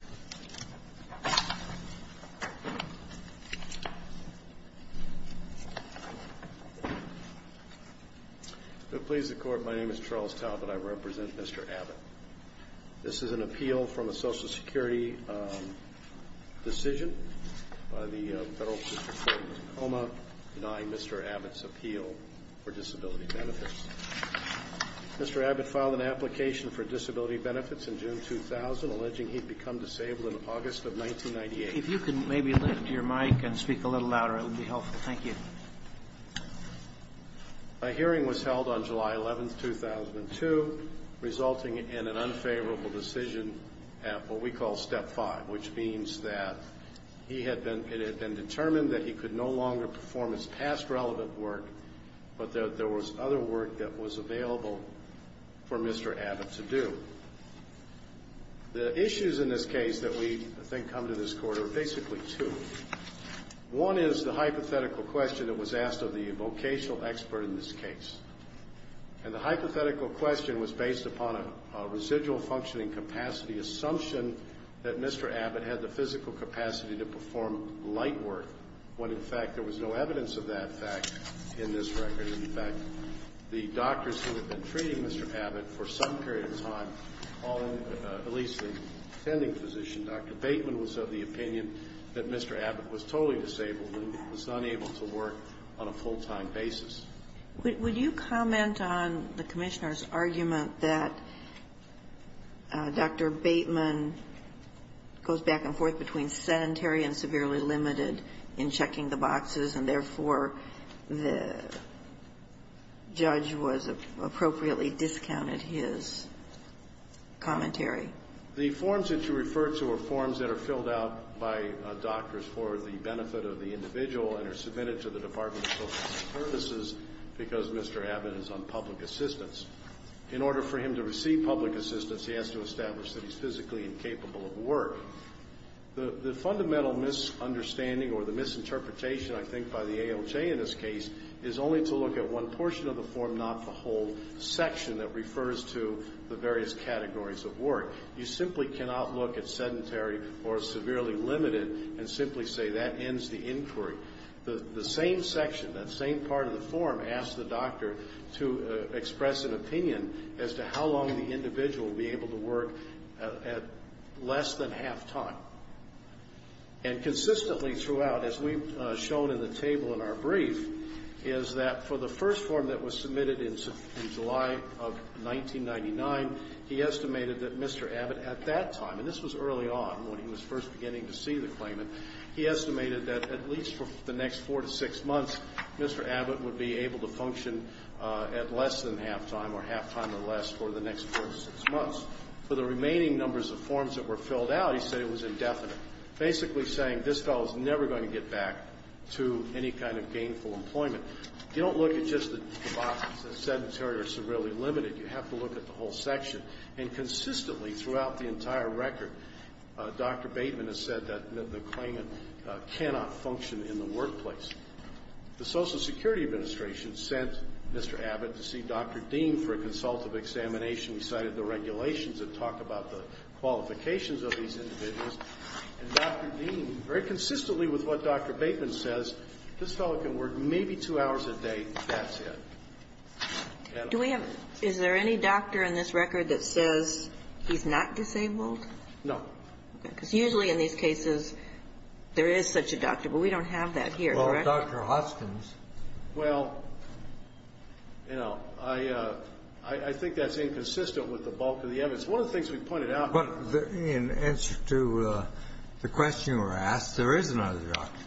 Mr. Abbott filed an application for disability benefits in June 2000 alleging he had become disabled in August of 1998. My hearing was held on July 11, 2002, resulting in an unfavorable decision at what we call Step 5, which means that it had been determined that he could no longer perform his past relevant work, but that there was other work that was available for Mr. Abbott to do. The issues in this case that we think come to this Court are basically two. One is the hypothetical question that was asked of the vocational expert in this case. And the hypothetical question was based upon a residual functioning capacity assumption that Mr. Abbott had the physical capacity to perform light work, when in fact there was no evidence of that fact in this record. In fact, the doctors who had been treating Mr. Abbott for some period of time, all in at least the attending physician, Dr. Bateman, was of the opinion that Mr. Abbott was totally disabled and was not able to work on a full-time basis. Would you comment on the Commissioner's argument that Dr. Bateman goes back and forth and severely limited in checking the boxes, and therefore the judge was appropriately discounted his commentary? The forms that you refer to are forms that are filled out by doctors for the benefit of the individual and are submitted to the Department of Social Services because Mr. Abbott is on public assistance. In order for him to receive public assistance, he has to establish that he's physically incapable of work. The fundamental misunderstanding or the misinterpretation, I think, by the ALJ in this case is only to look at one portion of the form, not the whole section that refers to the various categories of work. You simply cannot look at sedentary or severely limited and simply say that ends the inquiry. The same section, that same part of the form asks the doctor to express an opinion as to how long the individual will be able to work at less than half-time. And consistently throughout, as we've shown in the table in our brief, is that for the first form that was submitted in July of 1999, he estimated that Mr. Abbott at that time and this was early on when he was first beginning to see the claimant, he estimated that at least for the next four to six months, Mr. Abbott would be able to function at less than half-time or half-time or less for the next four to six months. For the remaining numbers of forms that were filled out, he said it was indefinite, basically saying this fellow's never going to get back to any kind of gainful employment. You don't look at just the box of sedentary or severely limited. You have to look at the whole section. And consistently throughout the entire record, Dr. Bateman has said that the claimant cannot function in the workplace. The Social Security Administration sent Mr. Abbott to see Dr. Dean for a consultative examination. He cited the regulations that talk about the qualifications of these individuals. And Dr. Dean, very consistently with what Dr. Bateman says, this fellow can work maybe two hours a day. That's it. And I don't know. Is there any doctor in this record that says he's not disabled? No. Because usually in these cases there is such a doctor, but we don't have that here. Well, Dr. Hoskins. Well, you know, I think that's inconsistent with the bulk of the evidence. One of the things we pointed out. In answer to the question you were asked, there is another doctor.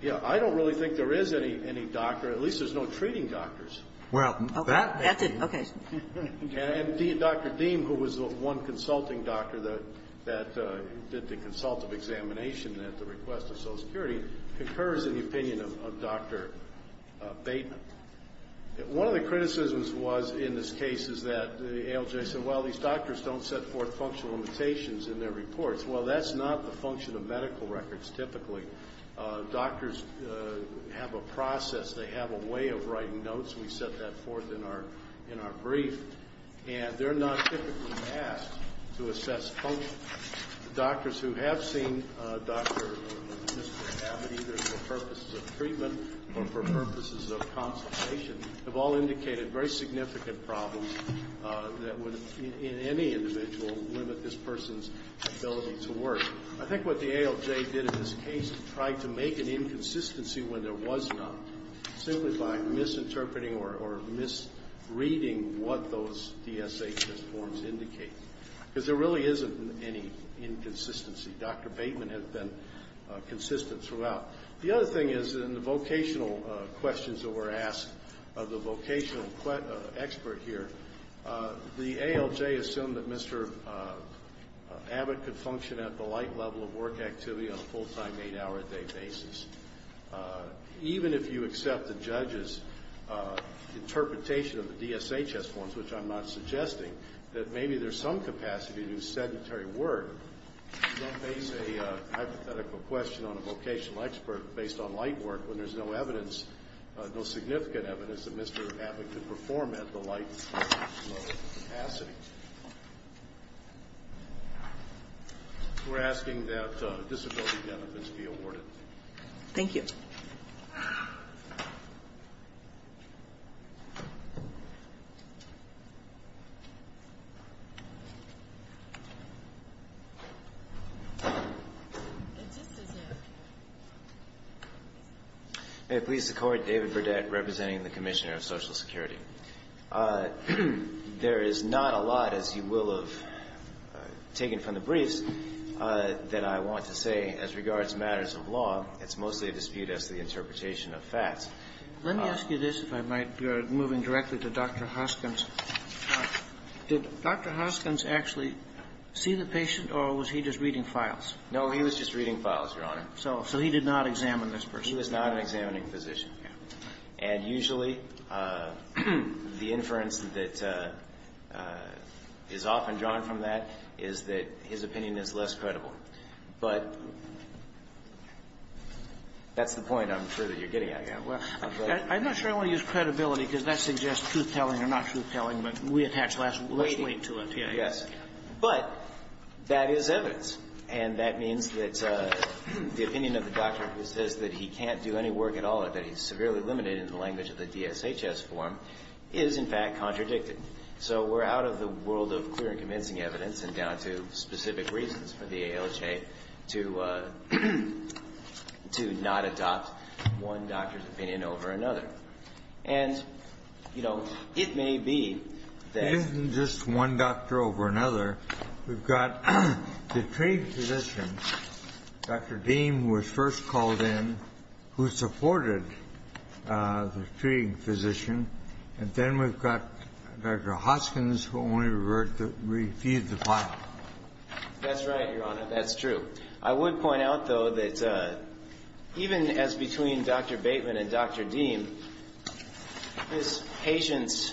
Yeah. I don't really think there is any doctor. At least there's no treating doctors. Well, that makes sense. Okay. And Dr. Dean, who was the one consulting doctor that did the consultative examination at the request of Social Security, concurs in the opinion of Dr. Bateman. One of the criticisms was in this case is that ALJ said, well, these doctors don't set forth functional limitations in their reports. Well, that's not the function of medical records typically. Doctors have a process. They have a way of writing notes. We set that forth in our brief. And they're not typically asked to assess function. Doctors who have seen Dr. or Mr. Abbott either for purposes of treatment or for purposes of consultation have all indicated very significant problems that would, in any individual, limit this person's ability to work. I think what the ALJ did in this case is try to make an inconsistency when there was none, simply by misinterpreting or misreading what those DSHS forms indicate. Because there really isn't any inconsistency. Dr. Bateman has been consistent throughout. The other thing is in the vocational questions that were asked of the vocational expert here, the ALJ assumed that Mr. Abbott could function at the light level of work activity on a full-time, eight-hour-a-day basis. Even if you accept the judge's interpretation of the DSHS forms, which I'm not suggesting, that maybe there's some capacity to do sedentary work, don't base a hypothetical question on a vocational expert based on light work when there's no evidence, no significant evidence, that Mr. Abbott could perform at the light level of capacity. We're asking that disability benefits be awarded. Thank you. May it please the Court, David Burdett, representing the Commissioner of Social Security. There is not a lot, as you will have taken from the briefs, that I want to say as regards matters of law. It's mostly a dispute as to the interpretation of facts. Let me ask you this, if I might, moving directly to Dr. Hoskins. Did Dr. Hoskins actually see the patient, or was he just reading files? No, he was just reading files, Your Honor. So he did not examine this person? He was not an examining physician. And usually the inference that is often drawn from that is that his opinion is less credible. But that's the point, I'm sure, that you're getting at here. I'm not sure I want to use credibility because that suggests truth-telling or not truth-telling, but we attach less weight to it. Yes. But that is evidence, and that means that the opinion of the doctor who says that he can't do any work at all or that he's severely limited in the language of the DSHS form is, in fact, contradicted. So we're out of the world of clear and convincing evidence and down to specific reasons for the ALJ to not adopt one doctor's opinion over another. And, you know, it may be that this is just one doctor over another. We've got the treating physician, Dr. Deem, who was first called in, who supported the treating physician, and then we've got Dr. Hoskins, who only reviewed the file. That's right, Your Honor. That's true. I would point out, though, that even as between Dr. Bateman and Dr. Deem, this patient's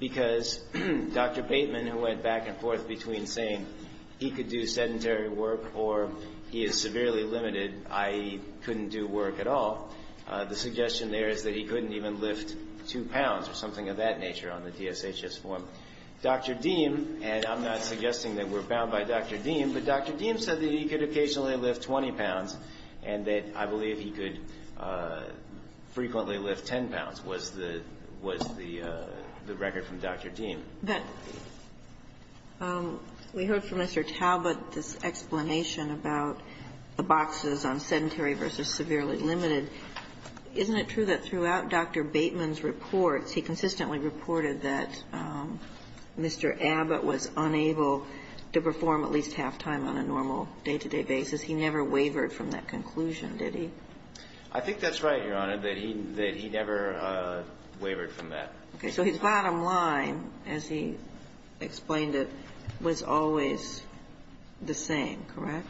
Because Dr. Bateman, who went back and forth between saying he could do sedentary work or he is severely limited, i.e., couldn't do work at all, the suggestion there is that he couldn't even lift 2 pounds or something of that nature on the DSHS form. Dr. Deem, and I'm not suggesting that we're bound by Dr. Deem, but Dr. Deem said that he could occasionally lift 20 pounds and that I believe he could frequently lift 10 pounds was the record from Dr. Deem. But we heard from Mr. Talbot this explanation about the boxes on sedentary versus severely limited. Isn't it true that throughout Dr. Bateman's reports, he consistently reported that Mr. Abbott was unable to perform at least half-time on a normal day-to-day basis? He never wavered from that conclusion, did he? I think that's right, Your Honor, that he never wavered from that. Okay. So his bottom line, as he explained it, was always the same, correct?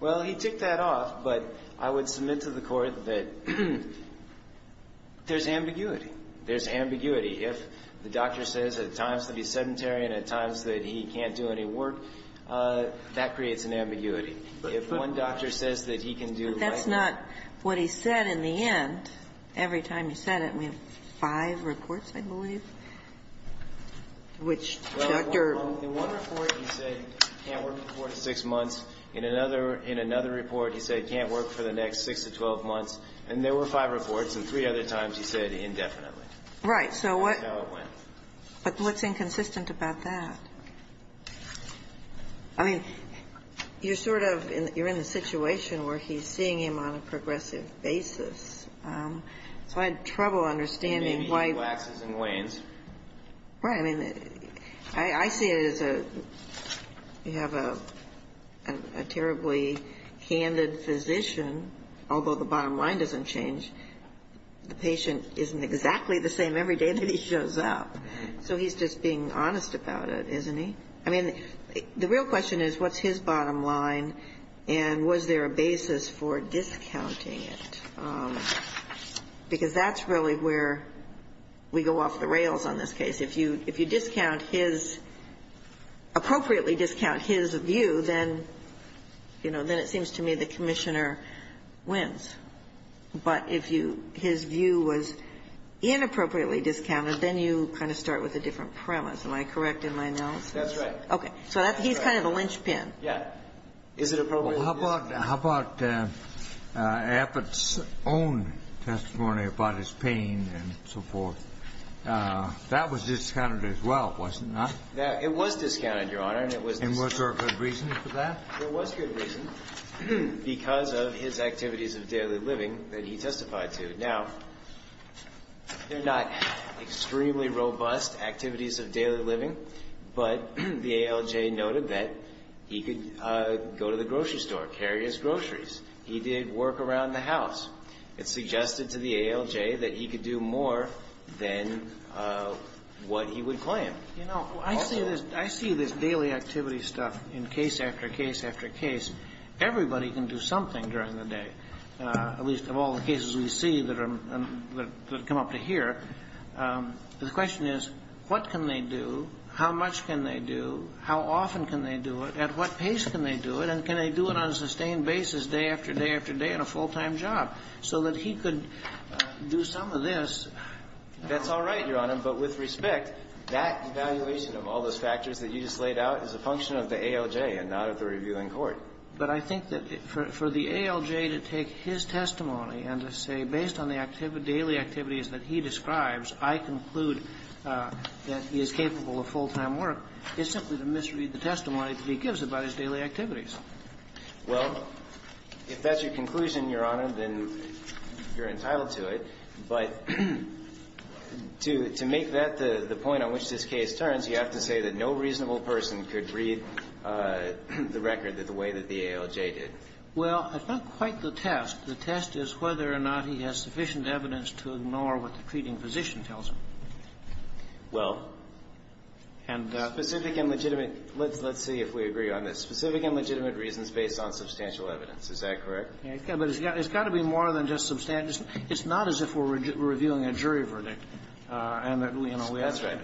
Well, he took that off, but I would submit to the Court that there's ambiguity. There's ambiguity. If the doctor says at times that he's sedentary and at times that he can't do any work, that creates an ambiguity. If one doctor says that he can do right work. But that's not what he said in the end. Every time he said it, we have five reports, I believe, which Dr. ---- Well, in one report he said he can't work for six months. In another report he said he can't work for the next 6 to 12 months. And there were five reports, and three other times he said indefinitely. Right. So what's inconsistent about that? I mean, you're sort of in the situation where he's seeing him on a progressive basis. So I had trouble understanding why ---- Maybe he relaxes and leans. Right. I mean, I see it as you have a terribly candid physician, although the bottom line doesn't change. The patient isn't exactly the same every day that he shows up. So he's just being honest about it, isn't he? I mean, the real question is what's his bottom line, and was there a basis for discounting it? Because that's really where we go off the rails on this case. If you discount his ---- appropriately discount his view, then, you know, then it seems to me the commissioner wins. But if you ---- his view was inappropriately discounted, then you kind of start with a different premise. Am I correct in my analysis? That's right. Okay. So he's kind of a linchpin. Yeah. Is it appropriate? Well, how about Affitt's own testimony about his pain and so forth? That was discounted as well, wasn't it not? It was discounted, Your Honor, and it was discounted. And was there a good reason for that? There was good reason because of his activities of daily living that he testified to. Now, they're not extremely robust activities of daily living, but the ALJ noted that he could go to the grocery store, carry his groceries. He did work around the house. It suggested to the ALJ that he could do more than what he would claim. You know, I see this daily activity stuff in case after case after case. Everybody can do something during the day, at least of all the cases we see that come up to here. The question is, what can they do, how much can they do, how often can they do it, at what pace can they do it, and can they do it on a sustained basis, day after day after day, in a full-time job, so that he could do some of this? That's all right, Your Honor, but with respect, that evaluation of all those factors that you just laid out is a function of the ALJ and not of the reviewing court. But I think that for the ALJ to take his testimony and to say, based on the daily activities that he describes, I conclude that he is capable of full-time work, is simply to misread the testimony that he gives about his daily activities. Well, if that's your conclusion, Your Honor, then you're entitled to it. But to make that the point on which this case turns, you have to say that no reasonable person could read the record the way that the ALJ did. Well, it's not quite the test. The test is whether or not he has sufficient evidence to ignore what the treating physician tells him. Well, specific and legitimate. Let's see if we agree on this. Specific and legitimate reasons based on substantial evidence. Is that correct? It's got to be more than just substantial. It's not as if we're reviewing a jury verdict. That's right.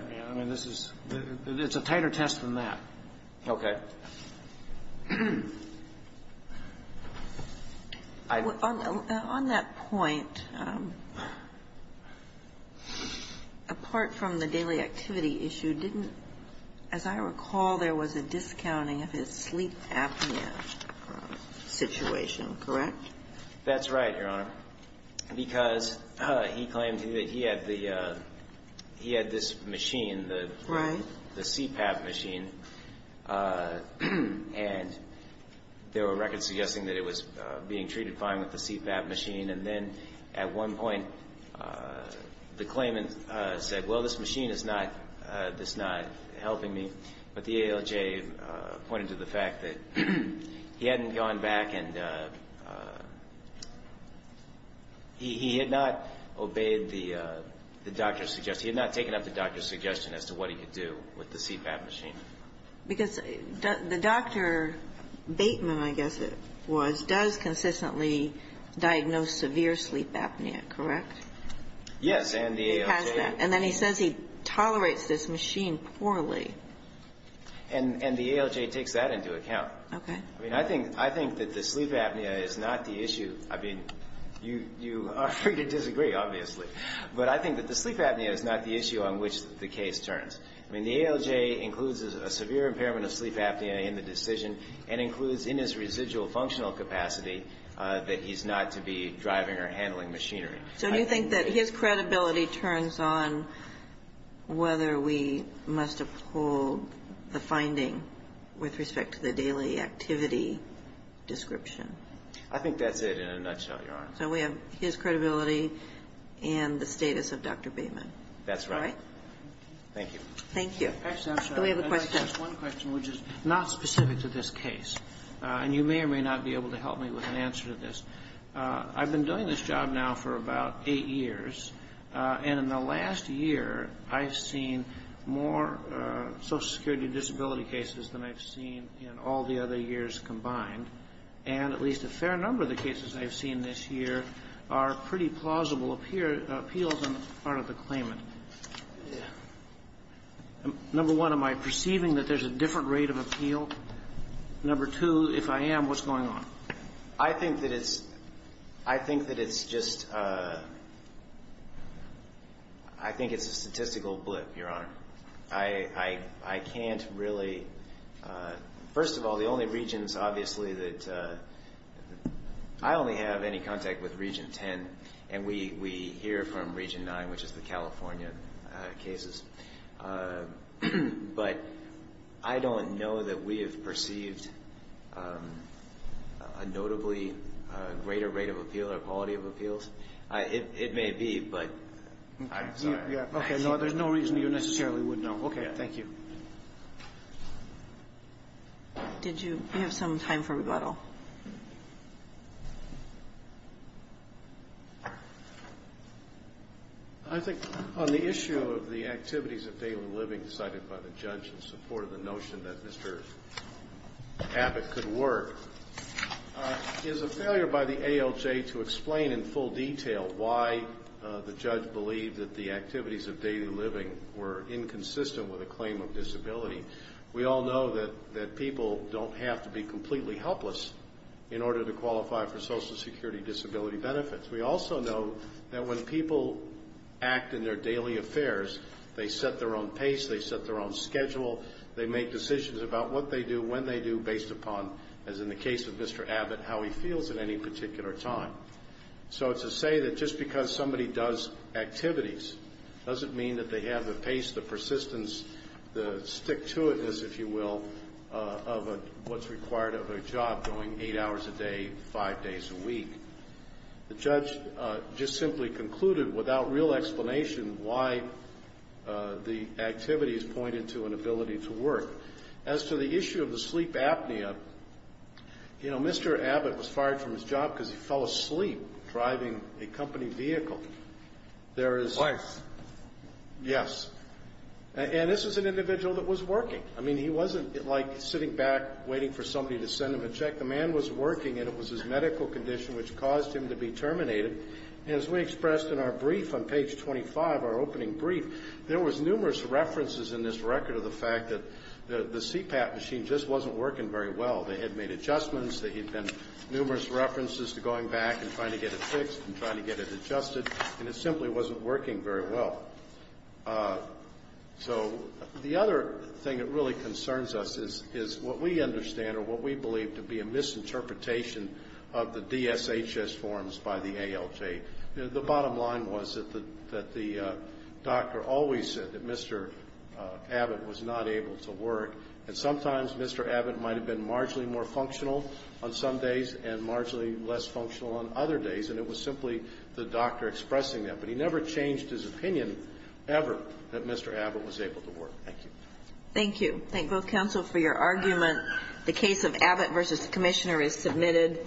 It's a tighter test than that. Okay. On that point, apart from the daily activity issue, didn't, as I recall, there was a discounting of his sleep apnea situation, correct? That's right, Your Honor. Because he claimed that he had the, he had this machine, the CPAP machine. Right. And there were records suggesting that it was being treated fine with the CPAP machine. And then at one point, the claimant said, well, this machine is not, it's not helping me. But the ALJ pointed to the fact that he hadn't gone back and he had not obeyed the doctor's suggestion. He had not taken up the doctor's suggestion as to what he could do with the CPAP machine. Because the doctor, Bateman, I guess it was, does consistently diagnose severe sleep apnea, correct? Yes. And the ALJ. And the ALJ takes that into account. Okay. I mean, I think that the sleep apnea is not the issue. I mean, you are free to disagree, obviously. But I think that the sleep apnea is not the issue on which the case turns. I mean, the ALJ includes a severe impairment of sleep apnea in the decision and includes in his residual functional capacity that he's not to be driving or handling machinery. So do you think that his credibility turns on whether we must uphold the finding with respect to the daily activity description? I think that's it in a nutshell, Your Honor. So we have his credibility and the status of Dr. Bateman. That's right. All right? Thank you. Thank you. Actually, I'm sorry. Do we have a question? Just one question, which is not specific to this case. And you may or may not be able to help me with an answer to this. I've been doing this job now for about eight years. And in the last year, I've seen more Social Security disability cases than I've seen in all the other years combined. And at least a fair number of the cases I've seen this year are pretty plausible appeals on the part of the claimant. Number one, am I perceiving that there's a different rate of appeal? Number two, if I am, what's going on? I think that it's just a statistical blip, Your Honor. I can't really. First of all, the only regions, obviously, that I only have any contact with Region 10. And we hear from Region 9, which is the California cases. But I don't know that we have perceived a notably greater rate of appeal or quality of appeals. It may be, but I'm sorry. Okay. There's no reason you necessarily would know. Okay. Thank you. Did you have some time for rebuttal? No. I think on the issue of the activities of daily living cited by the judge in support of the notion that Mr. Abbott could work, is a failure by the ALJ to explain in full detail why the judge believed that the activities of daily living were inconsistent with a claim of disability. We all know that people don't have to be completely helpless in order to qualify for Social Security disability benefits. We also know that when people act in their daily affairs, they set their own pace, they set their own schedule, they make decisions about what they do, when they do, based upon, as in the case of Mr. Abbott, how he feels at any particular time. So to say that just because somebody does activities doesn't mean that they have the pace, the persistence, the stick-to-it-ness, if you will, of what's required of a job going eight hours a day, five days a week. The judge just simply concluded, without real explanation, why the activities pointed to an ability to work. As to the issue of the sleep apnea, you know, Mr. Abbott was fired from his job because he fell asleep driving a company vehicle. Wife. Yes. And this was an individual that was working. I mean, he wasn't, like, sitting back waiting for somebody to send him a check. The man was working, and it was his medical condition which caused him to be terminated. And as we expressed in our brief on page 25, our opening brief, there was numerous references in this record of the fact that the CPAP machine just wasn't working very well. They had made adjustments, there had been numerous references to going back and trying to get it fixed and trying to get it adjusted, and it simply wasn't working very well. So the other thing that really concerns us is what we understand or what we believe to be a misinterpretation of the DSHS forms by the ALJ. The bottom line was that the doctor always said that Mr. Abbott was not able to work, and sometimes Mr. Abbott might have been marginally more functional on some days and marginally less functional on other days, and it was simply the doctor expressing that. But he never changed his opinion ever that Mr. Abbott was able to work. Thank you. Thank you. Thank both counsel for your argument. The case of Abbott v. Commissioner is submitted.